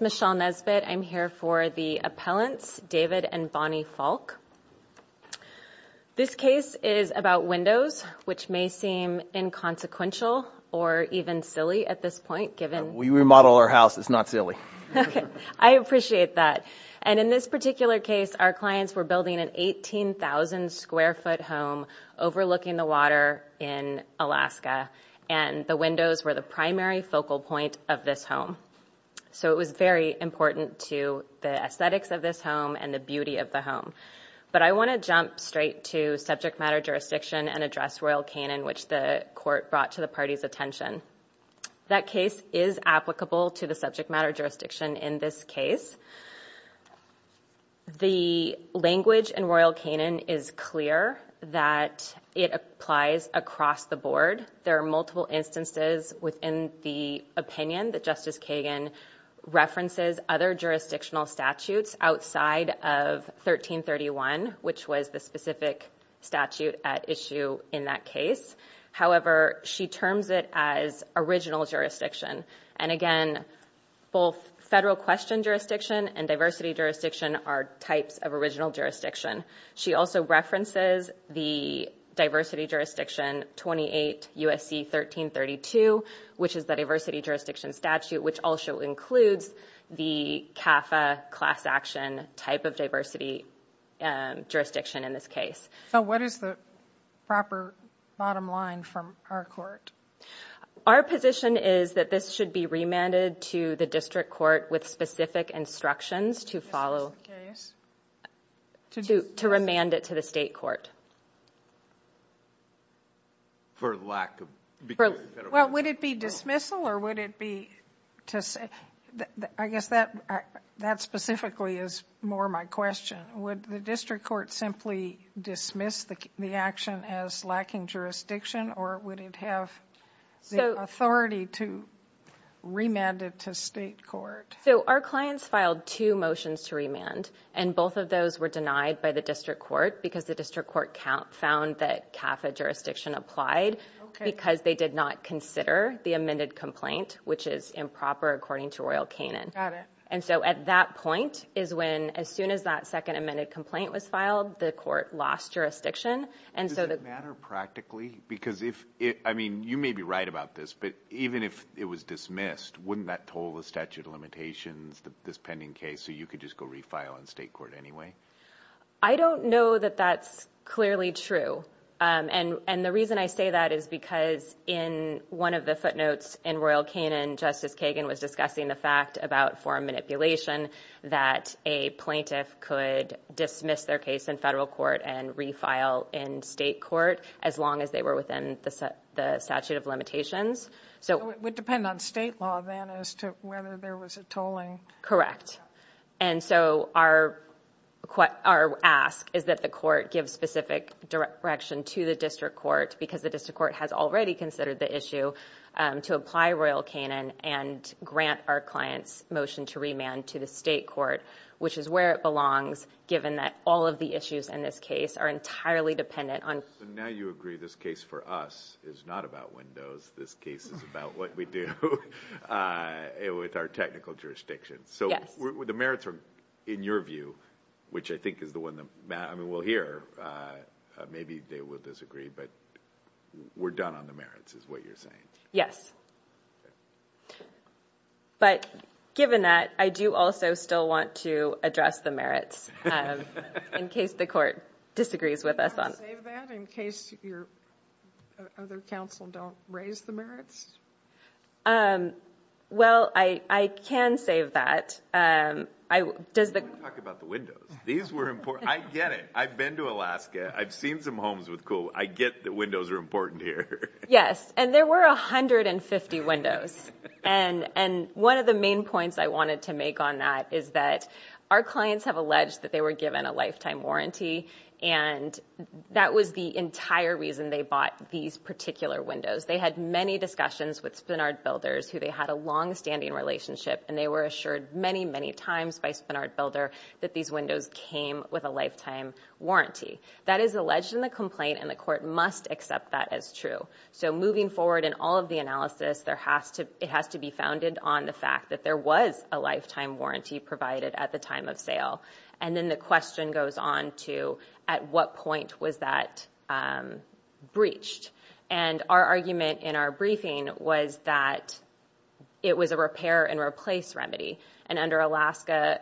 Michele Nesbitt, Appellant, David & Bonnie Faulk, Inc. This case is about windows, which may seem inconsequential or even silly at this point In this particular case, our clients were building an 18,000-square-foot home overlooking the water in Alaska, and the windows were the primary focal point of this home. So, it was very important to the aesthetics of this home and the beauty of the home. But I want to jump straight to subject matter jurisdiction and address Royal Canin, which the court brought to the party's attention. That case is applicable to the subject matter jurisdiction in this case. The language in Royal Canin is clear that it applies across the board. There are multiple instances within the opinion that Justice Kagan references other jurisdictional statutes outside of 1331, which was the specific statute at issue in that case. However, she terms it as original jurisdiction. And again, both federal question jurisdiction and diversity jurisdiction are types of original jurisdiction. She also references the diversity jurisdiction 28 U.S.C. 1332, which is the diversity jurisdiction statute, which also includes the CAFA class action type of diversity jurisdiction in this case. So, what is the proper bottom line from our court? Our position is that this should be remanded to the district court with specific instructions to follow. To remand it to the state court. For lack of better words. Well, would it be dismissal or would it be to say, I guess that specifically is more my question. Would the district court simply dismiss the action as lacking jurisdiction or would it have the authority to remand it to state court? So, our clients filed two motions to remand and both of those were denied by the district court because the district court found that CAFA jurisdiction applied because they did not consider the amended complaint, which is improper according to Royal Canin. And so, at that point is when as soon as that second amended complaint was filed, the court lost jurisdiction. Does it matter practically? Because if, I mean, you may be right about this, but even if it was dismissed, wouldn't that toll the statute of limitations, this pending case, so you could just go refile in state court anyway? I don't know that that's clearly true. And the reason I say that is because in one of the footnotes in Royal Canin, Justice Kagan was discussing the fact about foreign manipulation that a plaintiff could dismiss their case in federal court and refile in state court as long as they were within the statute of So, it would depend on state law then as to whether there was a tolling? And so, our ask is that the court give specific direction to the district court because the district court has already considered the issue to apply Royal Canin and grant our client's motion to remand to the state court, which is where it belongs given that all of the issues in this case are entirely dependent on So, now you agree this case for us is not about windows. This case is about what we do with our technical jurisdiction. Yes. So, the merits are in your view, which I think is the one that, I mean, we'll hear, maybe they will disagree, but we're done on the merits is what you're saying? Okay. But given that, I do also still want to address the merits in case the court disagrees with us on Can you not save that in case your other counsel don't raise the merits? Well, I can save that. Does the Let me talk about the windows. These were important. I get it. I've been to Alaska. I've seen some homes with cool. I get that windows are important here. Yes. And there were 150 windows. And one of the main points I wanted to make on that is that our clients have alleged that they were given a lifetime warranty and that was the entire reason they bought these particular windows. They had many discussions with Spenard Builders who they had a longstanding relationship and they were assured many, many times by Spenard Builder that these windows came with a lifetime warranty. That is alleged in the complaint and the court must accept that as true. So moving forward in all of the analysis, it has to be founded on the fact that there was a lifetime warranty provided at the time of sale. And then the question goes on to at what point was that breached? And our argument in our briefing was that it was a repair and replace remedy. And under Alaska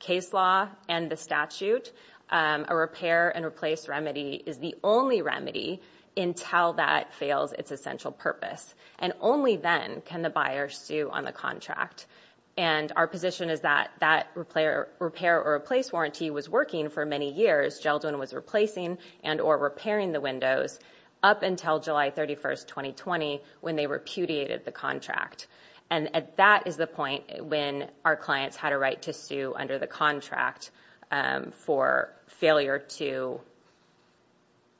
case law and the statute, a repair and replace remedy is the only remedy until that fails its essential purpose. And only then can the buyer sue on the contract. And our position is that that repair or replace warranty was working for many years. Geldwin was replacing and or repairing the windows up until July 31st, 2020 when they repudiated the contract. And that is the point when our clients had a right to sue under the contract for failure to,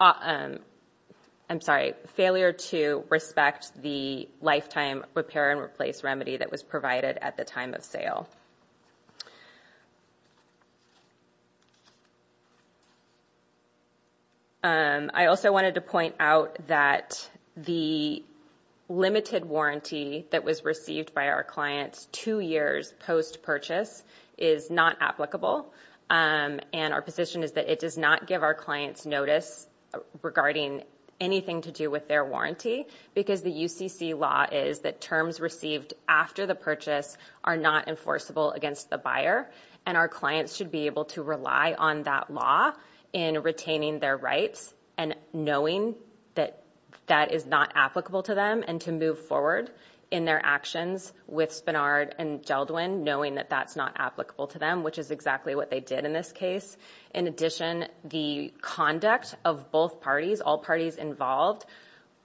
I'm sorry, failure to respect the lifetime repair and replace remedy that was provided at the time of sale. I also wanted to point out that the limited warranty that was received by our clients two years post-purchase is not applicable. And our position is that it does not give our clients notice regarding anything to do with their warranty because the UCC law is that terms received after the purchase are not enforceable against the buyer. And our clients should be able to rely on that law in retaining their rights and knowing that that is not applicable to them and to move forward in their actions with Spenard and Geldwin knowing that that's not applicable to them, which is exactly what they did in this case. In addition, the conduct of both parties, all parties involved,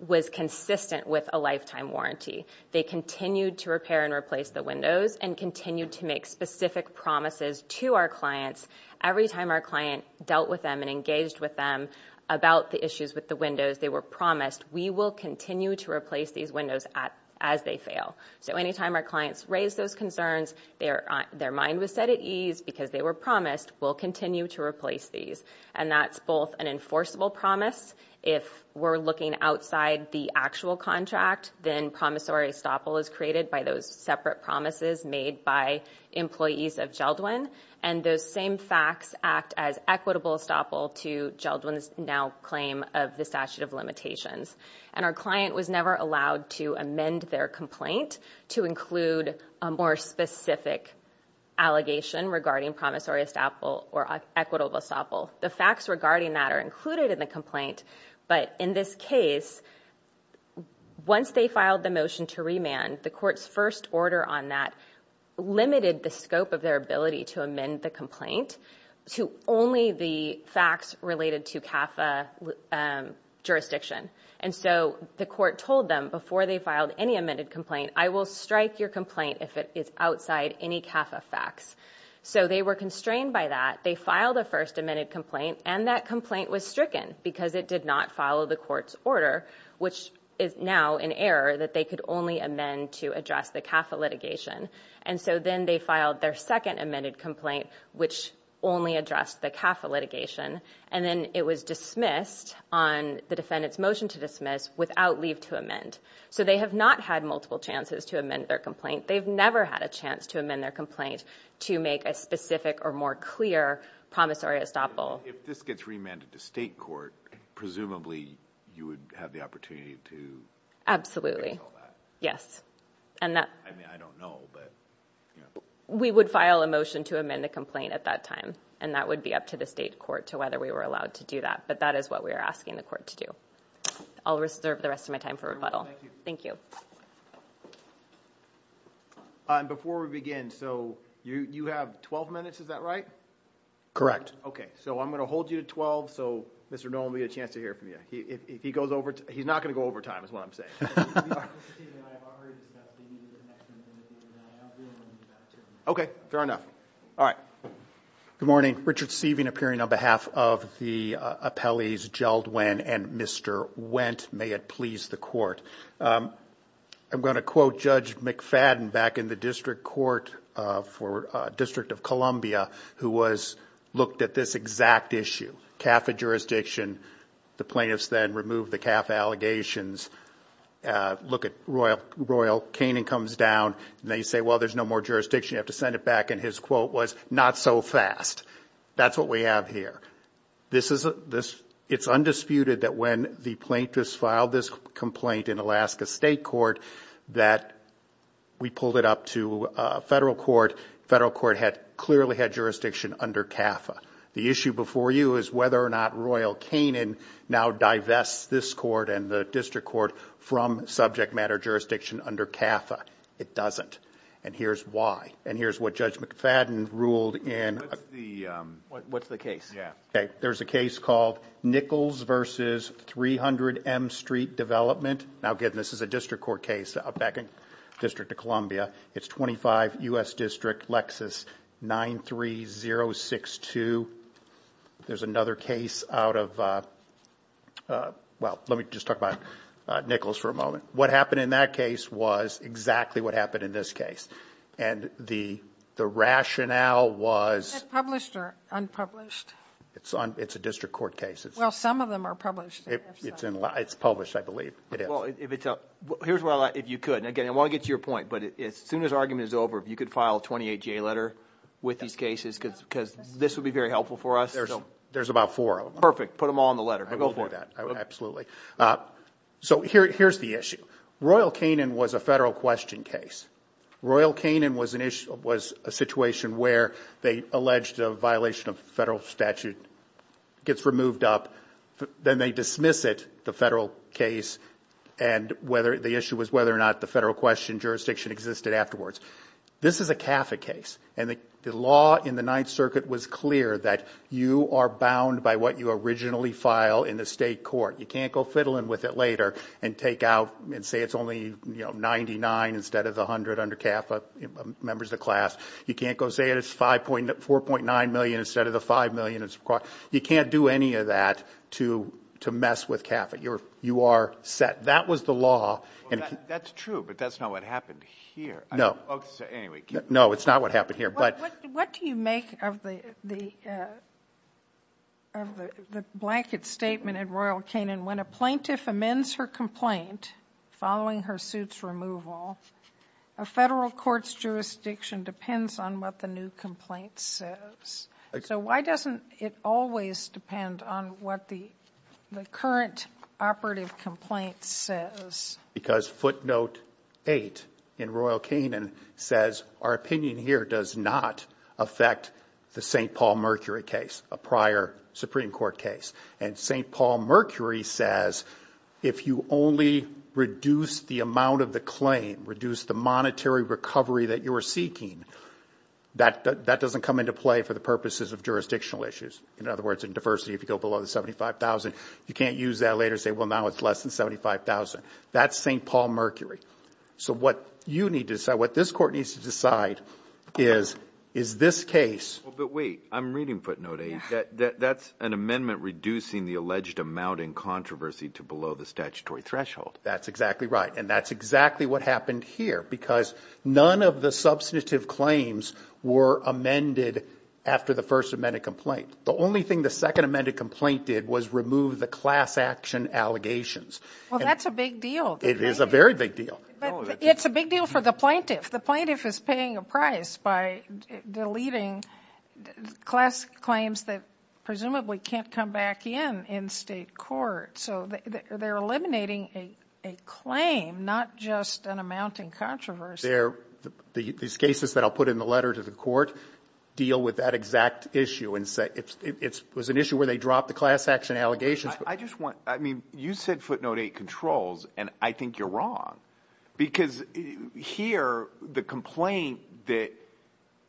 was consistent with a lifetime warranty. They continued to repair and replace the windows and continued to make specific promises to our clients every time our client dealt with them and engaged with them about the issues with the windows. They were promised, we will continue to replace these windows as they fail. So any time our clients raised those concerns, their mind was set at ease because they were promised we'll continue to replace these. And that's both an enforceable promise if we're looking outside the actual contract than promissory estoppel is created by those separate promises made by employees of Geldwin. And those same facts act as equitable estoppel to Geldwin's now claim of the statute of limitations. And our client was never allowed to amend their complaint to include a more specific allegation regarding promissory estoppel or equitable estoppel. The facts regarding that are included in the complaint, but in this case, once they filed the motion to remand, the court's first order on that limited the scope of their ability to amend the complaint to only the facts related to CAFA jurisdiction. And so the court told them before they filed any amended complaint, I will strike your complaint if it is outside any CAFA facts. So they were constrained by that. They filed a first amended complaint, and that complaint was stricken because it did not follow the court's order, which is now in error that they could only amend to address the CAFA litigation. And so then they filed their second amended complaint, which only addressed the CAFA litigation. And then it was dismissed on the defendant's motion to dismiss without leave to amend. So they have not had multiple chances to amend their complaint. They've never had a chance to amend their complaint to make a specific or more clear promissory estoppel. If this gets remanded to state court, presumably you would have the opportunity to... Absolutely. I mean, I don't know, but... We would file a motion to amend the complaint at that time, and that would be up to the state court to whether we were allowed to do that, but that is what we are asking the court to do. I'll reserve the rest of my time for rebuttal. Thank you. Thank you. And before we begin, so you have 12 minutes, is that right? Okay. So I'm going to hold you to 12, so Mr. Nolan will get a chance to hear from you. If he goes over... He's not going to go over time, is what I'm saying. Okay. Fair enough. All right. Good morning. Richard Sieving appearing on behalf of the appellees Geldwin and Mr. Wendt. May it please the court. I'm going to quote Judge McFadden back in the district court for District of Columbia, who looked at this exact issue, CAFA jurisdiction. The plaintiffs then removed the CAFA allegations. Look at Royal Canning comes down, and they say, well, there's no more jurisdiction. You have to send it back, and his quote was, not so fast. That's what we have here. It's undisputed that when the plaintiffs filed this complaint in Alaska State Court, that we pulled it up to federal court. Federal court had clearly had jurisdiction under CAFA. The issue before you is whether or not Royal Canning now divests this court and the district court from subject matter jurisdiction under CAFA. It doesn't. And here's why. And here's what Judge McFadden ruled in... What's the case? Yeah. Okay. There's a case called Nichols v. 300 M Street Development. Now again, this is a district court case back in District of Columbia. It's 25 U.S. District, Lexus 93062. There's another case out of, well, let me just talk about Nichols for a moment. What happened in that case was exactly what happened in this case. And the rationale was... Is this published or unpublished? It's a district court case. Well, some of them are published. It's published, I believe. It is. Well, if it's... Here's what I... If you could. And again, I want to get to your point, but as soon as argument is over, if you could file a 28-J letter with these cases, because this would be very helpful for us. There's about four of them. Perfect. Put them all in the letter. Go for it. I will do that. Absolutely. So here's the issue. Royal Canning was a federal question case. Royal Canning was a situation where they alleged a violation of federal statute gets removed up, then they dismiss it, the federal case, and the issue was whether or not the federal question jurisdiction existed afterwards. This is a CAFA case, and the law in the Ninth Circuit was clear that you are bound by what you originally file in the state court. You can't go fiddling with it later and take out and say it's only, you know, 99 instead of the 100 under CAFA, members of the class. You can't go say it's 4.9 million instead of the 5 million. You can't do any of that to mess with CAFA. You are set. That was the law. Well, that's true, but that's not what happened here. No. Anyway, keep going. No, it's not what happened here, but... What do you make of the blanket statement in Royal Canning when a plaintiff amends her complaint following her suit's removal, a federal court's jurisdiction depends on what the new complaint says? So why doesn't it always depend on what the current operative complaint says? Because footnote 8 in Royal Canning says our opinion here does not affect the St. Paul Mercury case, a prior Supreme Court case. And St. Paul Mercury says if you only reduce the amount of the claim, reduce the monetary recovery that you're seeking, that doesn't come into play for the purposes of jurisdictional issues. In other words, in diversity, if you go below the 75,000, you can't use that later and say, well, now it's less than 75,000. That's St. Paul Mercury. So what you need to decide, what this court needs to decide is, is this case... But wait. I'm reading footnote 8. That's an amendment reducing the alleged amount in controversy to below the statutory threshold. That's exactly right. And that's exactly what happened here because none of the substantive claims were amended after the first amended complaint. The only thing the second amended complaint did was remove the class action allegations. Well, that's a big deal. It is a very big deal. It's a big deal for the plaintiff. If the plaintiff is paying a price by deleting class claims that presumably can't come back in in state court, so they're eliminating a claim, not just an amount in controversy. These cases that I'll put in the letter to the court deal with that exact issue. It was an issue where they dropped the class action allegations. I just want... I mean, you said footnote 8 controls, and I think you're wrong because here, the complaint that...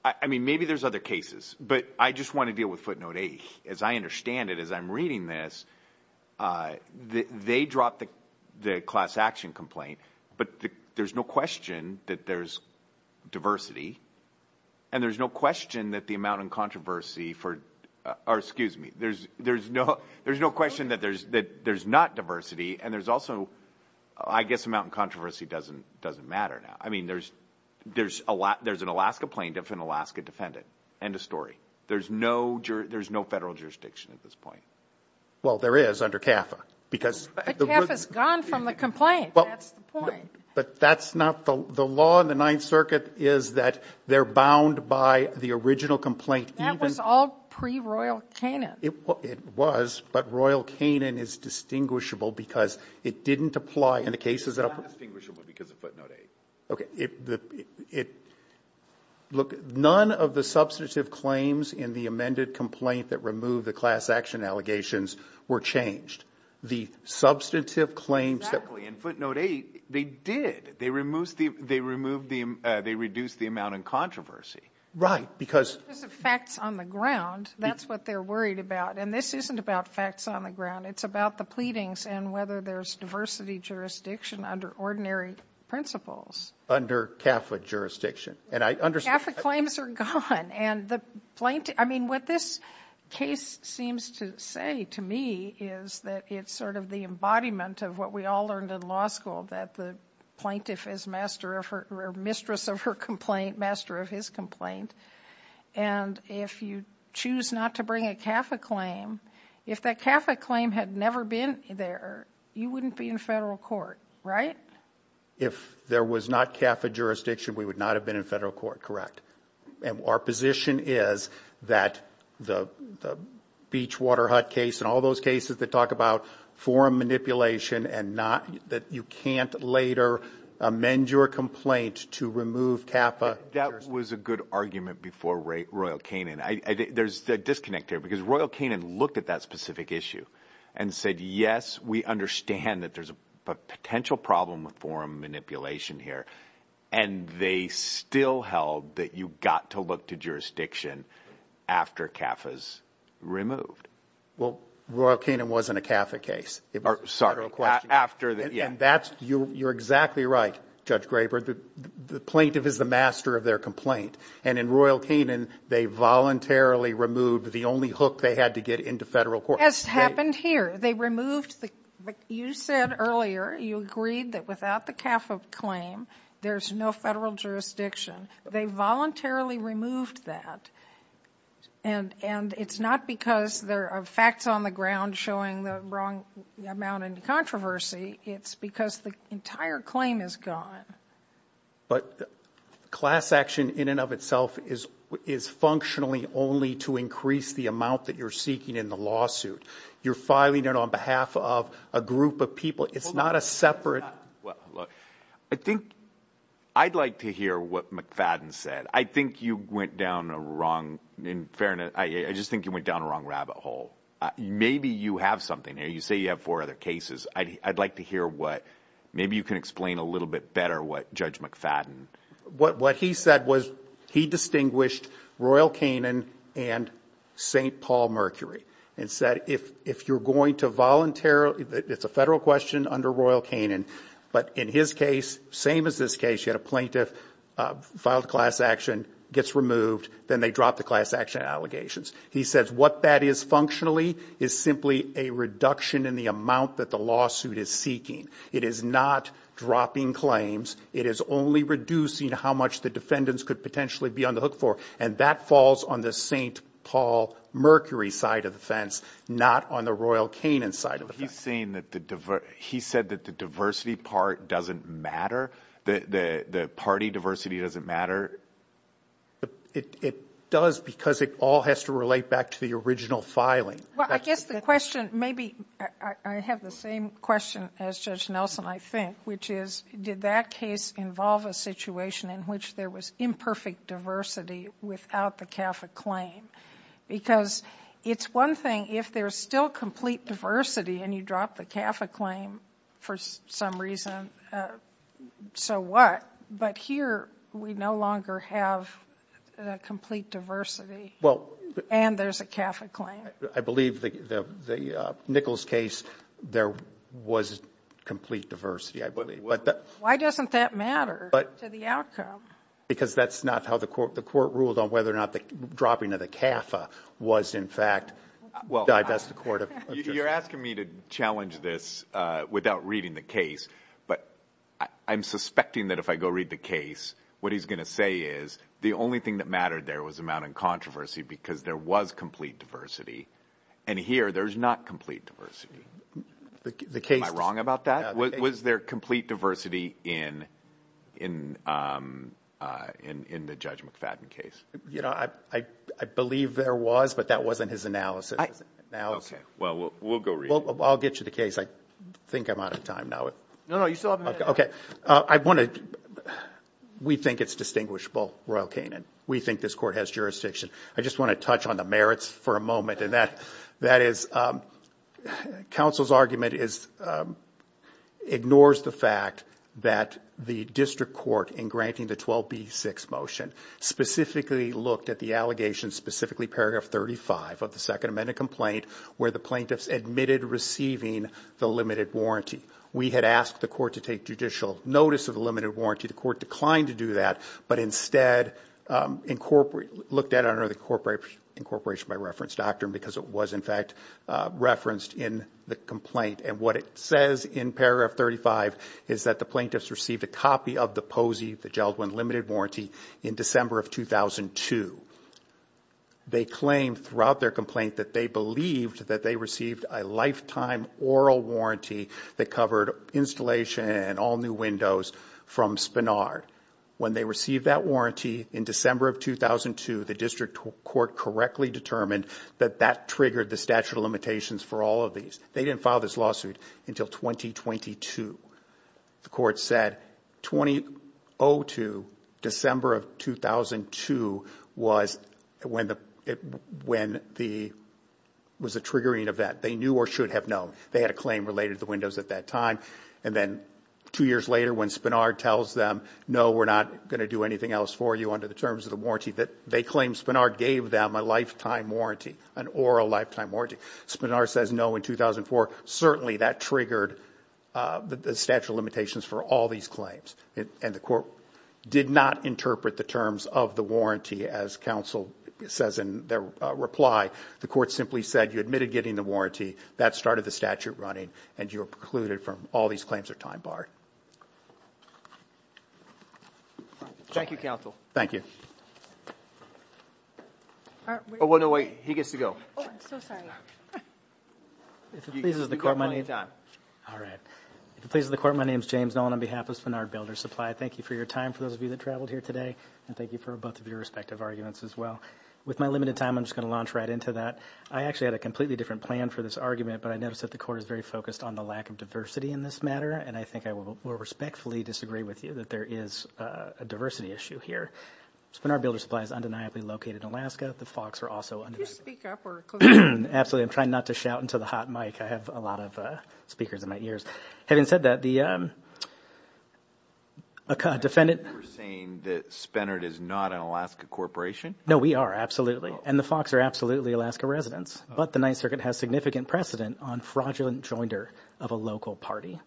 I mean, maybe there's other cases, but I just want to deal with footnote 8. As I understand it, as I'm reading this, they dropped the class action complaint, but there's no question that there's diversity, and there's no question that the amount in controversy for... Or excuse me. There's no question that there's not diversity, and there's also... I guess the amount in controversy doesn't matter now. I mean, there's an Alaska plaintiff and an Alaska defendant. End of story. There's no federal jurisdiction at this point. Well, there is under CAFA because... But CAFA's gone from the complaint. That's the point. But that's not... The law in the Ninth Circuit is that they're bound by the original complaint even... That was all pre-Royal Canaan. It was, but Royal Canaan is distinguishable because it didn't apply in the cases that... It's not distinguishable because of footnote 8. Okay. It... Look, none of the substantive claims in the amended complaint that removed the class action allegations were changed. The substantive claims... Exactly. In footnote 8, they did. They removed the... They reduced the amount in controversy. Right, because... Because it's facts on the ground. That's what they're worried about. And this isn't about facts on the ground. It's about the pleadings and whether there's diversity jurisdiction under ordinary principles. Under CAFA jurisdiction. And I understand... CAFA claims are gone. And the plaintiff... I mean, what this case seems to say to me is that it's sort of the embodiment of what we all learned in law school, that the plaintiff is master of her... And if you choose not to bring a CAFA claim, if that CAFA claim had never been there, you wouldn't be in federal court, right? If there was not CAFA jurisdiction, we would not have been in federal court, correct? And our position is that the Beachwater Hut case and all those cases that talk about forum manipulation and not... That you can't later amend your complaint to remove CAFA... That was a good argument before Royal Canin. There's a disconnect there because Royal Canin looked at that specific issue and said, yes, we understand that there's a potential problem with forum manipulation here. And they still held that you got to look to jurisdiction after CAFA's removed. Well, Royal Canin wasn't a CAFA case. It was a federal question. After the... Yeah. And that's... You're exactly right, Judge Graber. The plaintiff is the master of their complaint. And in Royal Canin, they voluntarily removed the only hook they had to get into federal court. That's happened here. They removed the... You said earlier, you agreed that without the CAFA claim, there's no federal jurisdiction. They voluntarily removed that. And it's not because there are facts on the ground showing the wrong amount in controversy. It's because the entire claim is gone. But class action in and of itself is functionally only to increase the amount that you're seeking in the lawsuit. You're filing it on behalf of a group of people. It's not a separate... Well, look, I think I'd like to hear what McFadden said. I think you went down a wrong, in fairness, I just think you went down a wrong rabbit hole. Maybe you have something here. You say you have four other cases. I'd like to hear what... Maybe you can explain a little bit better what Judge McFadden... What he said was, he distinguished Royal Canin and St. Paul Mercury and said, if you're going to voluntarily... It's a federal question under Royal Canin. But in his case, same as this case, you had a plaintiff filed a class action, gets removed, then they drop the class action allegations. He says what that is functionally is simply a reduction in the amount that the lawsuit is seeking. It is not dropping claims. It is only reducing how much the defendants could potentially be on the hook for. And that falls on the St. Paul Mercury side of the fence, not on the Royal Canin side of the fence. He's saying that the... He said that the diversity part doesn't matter? The party diversity doesn't matter? It does because it all has to relate back to the original filing. Well, I guess the question... Maybe I have the same question as Judge Nelson, I think, which is, did that case involve a situation in which there was imperfect diversity without the CAFA claim? Because it's one thing if there's still complete diversity and you drop the CAFA claim for some reason, so what? But here we no longer have a complete diversity and there's a CAFA claim. I believe the Nichols case, there was complete diversity, I believe. Why doesn't that matter to the outcome? Because that's not how the court ruled on whether or not the dropping of the CAFA was in fact... Well, you're asking me to challenge this without reading the case, but I'm suspecting that if I go read the case, what he's going to say is, the only thing that mattered there was amount in controversy because there was complete diversity and here there's not complete diversity. Am I wrong about that? Was there complete diversity in the Judge McFadden case? I believe there was, but that wasn't his analysis. Okay. Well, we'll go read it. Well, I'll get you the case. I think I'm out of time now. No, no. You still have a minute. Okay. I want to... We think it's distinguishable, Royal Canin. We think this court has jurisdiction. I just want to touch on the merits for a moment and that is, counsel's argument ignores the fact that the district court in granting the 12B6 motion specifically looked at the allegations, specifically paragraph 35 of the Second Amendment complaint where the plaintiffs admitted receiving the limited warranty. We had asked the court to take judicial notice of the limited warranty. The court declined to do that, but instead looked at it under the incorporation by reference doctrine because it was in fact referenced in the complaint. And what it says in paragraph 35 is that the plaintiffs received a copy of the POSI, the Geldwin limited warranty, in December of 2002. They claimed throughout their complaint that they believed that they received a lifetime oral warranty that covered installation and all new windows from Spenard. When they received that warranty in December of 2002, the district court correctly determined that that triggered the statute of limitations for all of these. They didn't file this lawsuit until 2022. The court said 2002, December of 2002, was a triggering event. They knew or should have known. They had a claim related to the windows at that time. And then two years later when Spenard tells them, no, we're not going to do anything else for you under the terms of the warranty, that they claimed Spenard gave them a lifetime warranty, an oral lifetime warranty. Spenard says no in 2004. Certainly that triggered the statute of limitations for all these claims. And the court did not interpret the terms of the warranty as counsel says in their reply. The court simply said you admitted getting the warranty. That started the statute running and you were precluded from all these claims are time barred. Thank you, counsel. Thank you. Oh, well, no, wait, he gets to go. Oh, I'm so sorry. If it pleases the court, my name's James Nolan on behalf of Spenard Builder Supply. Thank you for your time for those of you that traveled here today and thank you for both of your respective arguments as well. With my limited time, I'm just going to launch right into that. I actually had a completely different plan for this argument, but I noticed that the court is very focused on the lack of diversity in this matter. And I think I will respectfully disagree with you that there is a diversity issue here. Spenard Builder Supply is undeniably located in Alaska. The Fox are also undeniably. Could you speak up? Absolutely. I'm trying not to shout into the hot mic. I have a lot of speakers in my ears. Having said that, the defendant- Are you saying that Spenard is not an Alaska corporation? No, we are. And the Fox are absolutely Alaska residents. But the Ninth Circuit has significant precedent on fraudulent joinder of a local party.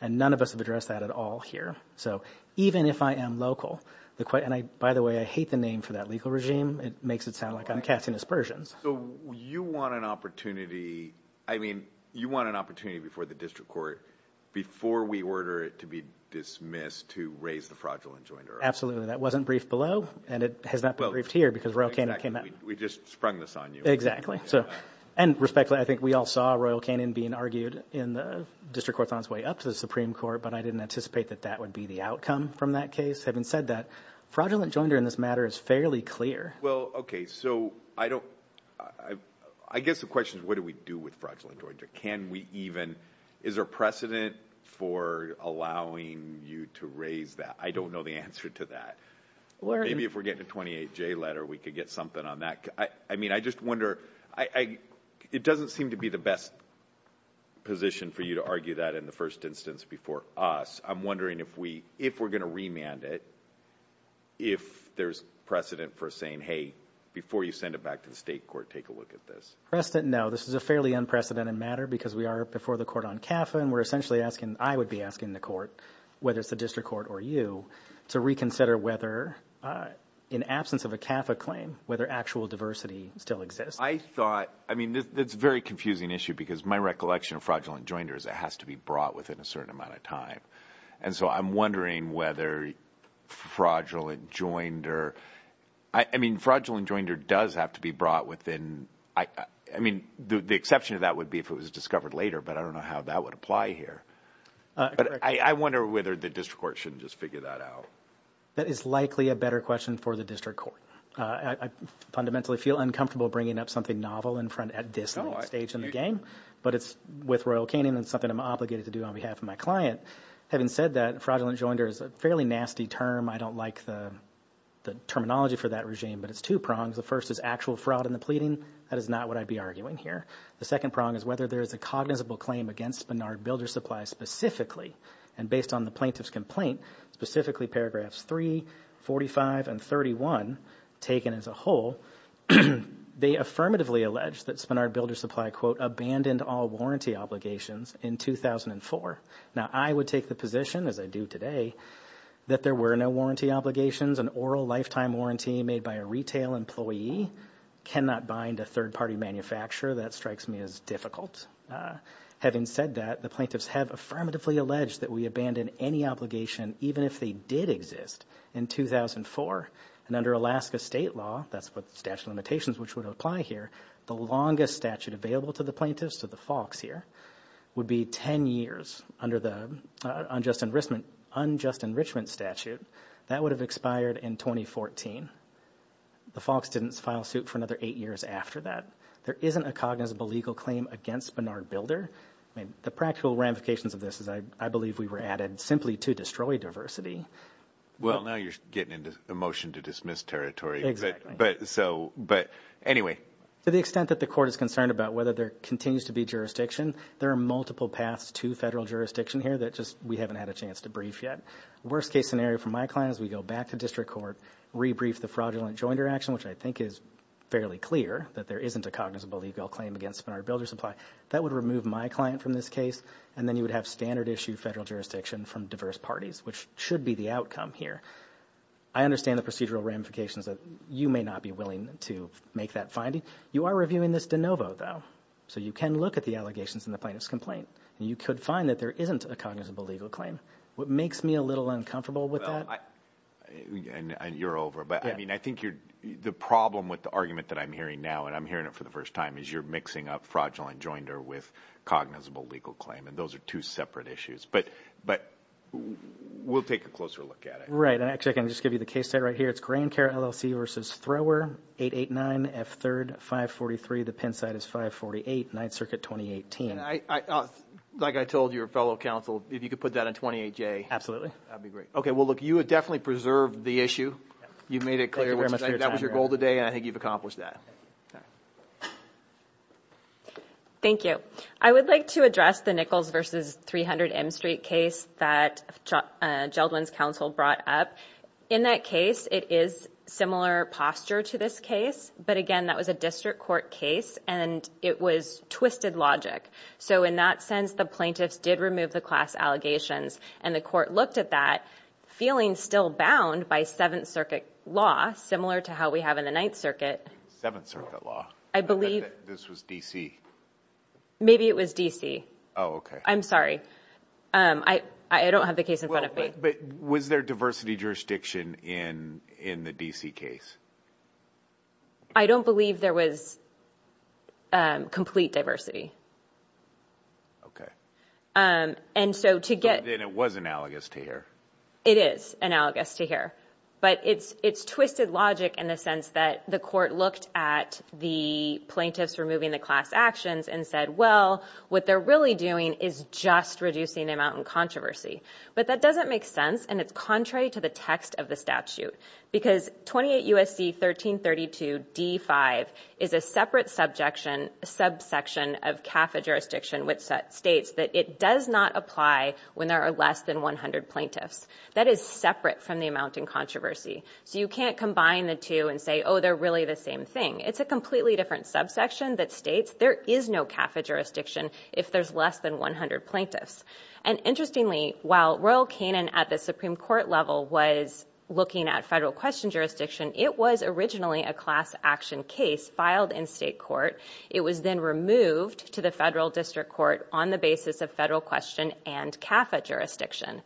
And none of us have addressed that at all here. So even if I am local, and by the way, I hate the name for that legal regime. It makes it sound like I'm casting aspersions. So you want an opportunity, I mean, you want an opportunity before the district court, before we order it to be dismissed to raise the fraudulent joinder? Absolutely. That wasn't briefed below, and it has not been briefed here, because Royal Canyon came out- We just sprung this on you. Exactly. And respectfully, I think we all saw Royal Canyon being argued in the district courts on its way up to the Supreme Court, but I didn't anticipate that that would be the outcome from that case. Having said that, fraudulent joinder in this matter is fairly clear. Well, okay. So I don't, I guess the question is what do we do with fraudulent joinder? Can we even, is there precedent for allowing you to raise that? I don't know the answer to that. Maybe if we're getting a 28J letter, we could get something on that. I mean, I just wonder, it doesn't seem to be the best position for you to argue that in the first instance before us. I'm wondering if we're going to remand it, if there's precedent for saying, hey, before you send it back to the state court, take a look at this. Precedent, no. This is a fairly unprecedented matter, because we are before the court on CAFA, and we're essentially asking, I would be asking the court, whether it's the district court or you, to reconsider whether in absence of a CAFA claim, whether actual diversity still exists. I thought, I mean, it's a very confusing issue, because my recollection of fraudulent joinder is it has to be brought within a certain amount of time. And so I'm wondering whether fraudulent joinder, I mean, fraudulent joinder does have to be brought within, I mean, the exception to that would be if it was discovered later, but I don't know how that would apply here. But I wonder whether the district court should just figure that out. That is likely a better question for the district court. I fundamentally feel uncomfortable bringing up something novel in front at this stage in the game, but it's with Royal Canyon, and it's something I'm obligated to do on behalf of my client. Having said that, fraudulent joinder is a fairly nasty term. I don't like the terminology for that regime, but it's two prongs. The first is actual fraud in the pleading. That is not what I'd be arguing here. The second prong is whether there is a cognizable claim against Spenard Builder Supply specifically, and based on the plaintiff's complaint, specifically paragraphs 3, 45, and 31, taken as a whole, they affirmatively allege that Spenard Builder Supply, quote, abandoned all warranty obligations in 2004. Now, I would take the position, as I do today, that there were no warranty obligations. An oral lifetime warranty made by a retail employee cannot bind a third-party manufacturer. That strikes me as difficult. Having said that, the plaintiffs have affirmatively alleged that we abandoned any obligation, even if they did exist, in 2004, and under Alaska state law, that's what statute of limitations which would apply here, the longest statute available to the plaintiffs, to the Falks here, would be 10 years. Under the unjust enrichment statute, that would have expired in 2014. The Falks didn't file suit for another eight years after that. There isn't a cognizable legal claim against Spenard Builder. The practical ramifications of this is, I believe, we were added simply to destroy diversity. Well, now you're getting into a motion to dismiss territory. But anyway. To the extent that the court is concerned about whether there continues to be jurisdiction, there are multiple paths to federal jurisdiction here that just we haven't had a chance to brief yet. The worst-case scenario for my client is we go back to district court, rebrief the fraudulent rejoinder action, which I think is fairly clear, that there isn't a cognizable legal claim against Spenard Builder Supply. That would remove my client from this case, and then you would have standard-issue federal jurisdiction from diverse parties, which should be the outcome here. I understand the procedural ramifications that you may not be willing to make that finding. You are reviewing this de novo, though, so you can look at the allegations in the plaintiff's complaint, and you could find that there isn't a cognizable legal claim. What makes me a little uncomfortable with that – You're over. But I think the problem with the argument that I'm hearing now, and I'm hearing it for the first time, is you're mixing up fraudulent rejoinder with cognizable legal claim, and those are two separate issues. But we'll take a closer look at it. Right. Actually, I can just give you the case site right here. It's Grand Care LLC v. Thrower, 889 F. 3rd, 543. The pen site is 548, 9th Circuit, 2018. Like I told your fellow counsel, if you could put that on 28J. Absolutely. That would be great. Okay. Well, look. You have definitely preserved the issue. You've made it clear. Thank you very much for your time. That was your goal today, and I think you've accomplished that. Thank you. I would like to address the Nichols v. 300 M Street case that Geldwin's counsel brought up. In that case, it is similar posture to this case, but again, that was a district court case, and it was twisted logic. So in that sense, the plaintiffs did remove the class allegations, and the court looked at that, feeling still bound by Seventh Circuit law, similar to how we have in the Ninth Circuit. Seventh Circuit law? I believe... This was D.C. Maybe it was D.C. Oh, okay. I'm sorry. I don't have the case in front of me. Was there diversity jurisdiction in the D.C. case? I don't believe there was complete diversity. Okay. And so to get... And it was analogous to here. It is analogous to here, but it's twisted logic in the sense that the court looked at the plaintiffs removing the class actions and said, well, what they're really doing is just reducing the amount of controversy. But that doesn't make sense, and it's contrary to the text of the statute. Because 28 U.S.C. 1332 D-5 is a separate subsection of CAFA jurisdiction, which states that it does not apply when there are less than 100 plaintiffs. That is separate from the amount in controversy. So you can't combine the two and say, oh, they're really the same thing. It's a completely different subsection that states there is no CAFA jurisdiction if there's less than 100 plaintiffs. And interestingly, while Royal Canin at the Supreme Court level was looking at federal question jurisdiction, it was originally a class action case filed in state court. It was then removed to the federal district court on the basis of federal question and CAFA jurisdiction.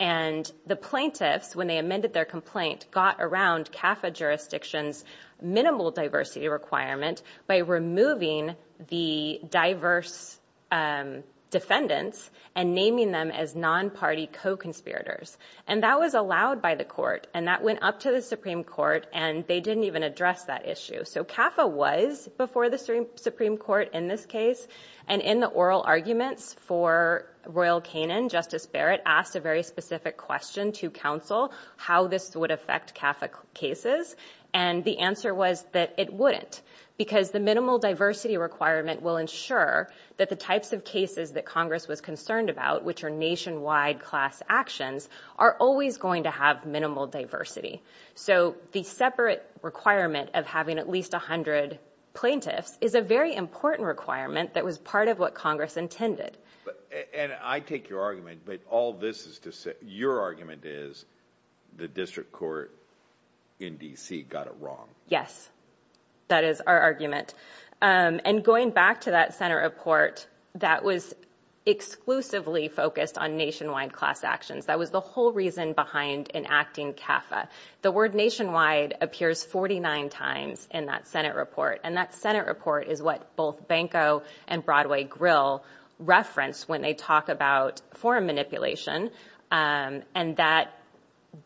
And the plaintiffs, when they amended their complaint, got around CAFA jurisdiction's minimal diversity requirement by removing the diverse defendants and naming them as non-party co-conspirators. And that was allowed by the court, and that went up to the Supreme Court, and they didn't even address that issue. So CAFA was before the Supreme Court in this case. And in the oral arguments for Royal Canin, Justice Barrett asked a very specific question to counsel how this would affect CAFA cases. And the answer was that it wouldn't. Because the minimal diversity requirement will ensure that the types of cases that Congress was concerned about, which are nationwide class actions, are always going to have minimal diversity. So the separate requirement of having at least 100 plaintiffs is a very important requirement that was part of what Congress intended. And I take your argument, but all this is to say, your argument is the district court in D.C. got it wrong. Yes. That is our argument. And going back to that Senate report, that was exclusively focused on nationwide class actions. That was the whole reason behind enacting CAFA. The word nationwide appears 49 times in that Senate report. And that Senate report is what both Banco and Broadway Grill reference when they talk about foreign manipulation. And that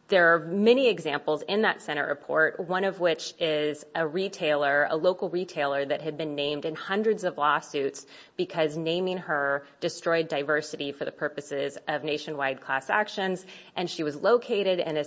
there are many examples in that Senate report, one of which is a retailer, a local retailer that had been named in hundreds of lawsuits because naming her destroyed diversity for the purposes of nationwide class actions. And she was located in a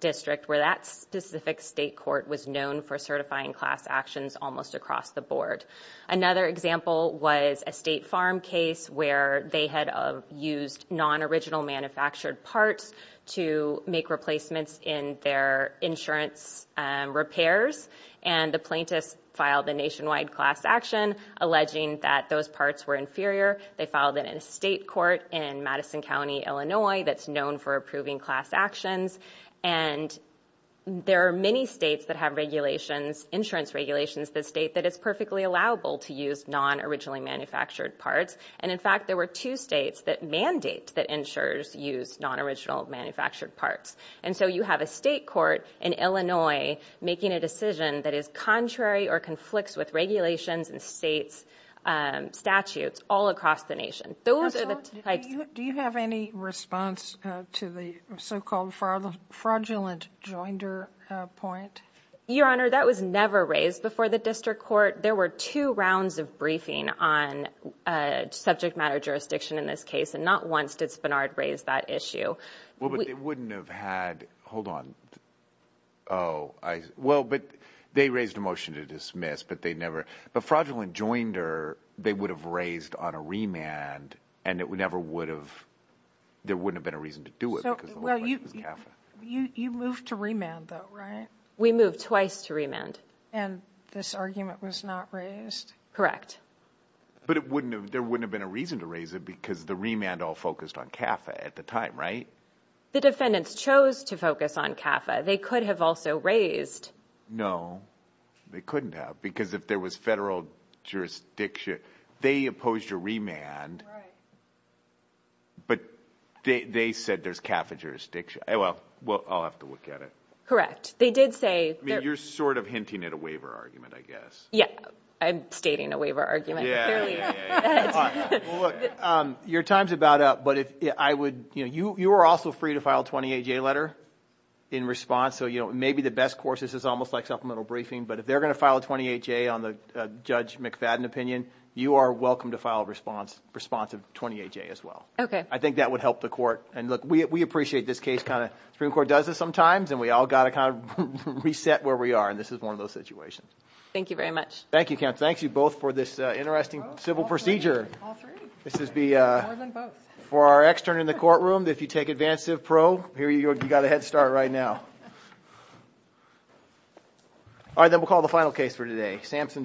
district where that specific state court was known for certifying class actions almost across the board. Another example was a state farm case where they had used non-original manufactured parts to make replacements in their insurance repairs. And the plaintiffs filed a nationwide class action alleging that those parts were inferior. They filed it in a state court in Madison County, Illinois, that's known for approving class actions. And there are many states that have regulations, insurance regulations that state that it's perfectly allowable to use non-originally manufactured parts. And in fact, there were two states that mandate that insurers use non-original manufactured parts. And so you have a state court in Illinois making a decision that is contrary or conflicts with regulations and state's statutes all across the nation. Those are the types. Do you have any response to the so-called fraudulent joinder point? Your Honor, that was never raised before the district court. There were two rounds of briefing on subject matter jurisdiction in this case, and not once did Spenard raise that issue. Well, but they wouldn't have had, hold on, oh, I, well, but they raised a motion to dismiss, but they never, but fraudulent joinder, they would have raised on a remand and it would never would have, there wouldn't have been a reason to do it because it was CAFA. You moved to remand though, right? We moved twice to remand. And this argument was not raised? Correct. But it wouldn't have, there wouldn't have been a reason to raise it because the remand all focused on CAFA at the time, right? The defendants chose to focus on CAFA. They could have also raised. No, they couldn't have, because if there was federal jurisdiction, they opposed your remand, but they said there's CAFA jurisdiction. Well, I'll have to look at it. Correct. They did say- I mean, you're sort of hinting at a waiver argument, I guess. Yeah. I'm stating a waiver argument. All right. Well, look, your time's about up, but if I would, you were also free to file a 28-J letter in response. So, you know, maybe the best course, this is almost like supplemental briefing, but if they're going to file a 28-J on the Judge McFadden opinion, you are welcome to file a response of 28-J as well. Okay. I think that would help the court. And look, we appreciate this case kind of, Supreme Court does this sometimes, and we all got to kind of reset where we are, and this is one of those situations. Thank you very much. Thank you, Kemp. Thank you both for this interesting civil procedure. All three. All three. This is the- More than both. For our extern in the courtroom, if you take Advancive Pro, you got a head start right now. All right. Then we'll call the final case for today, Samson Tugg.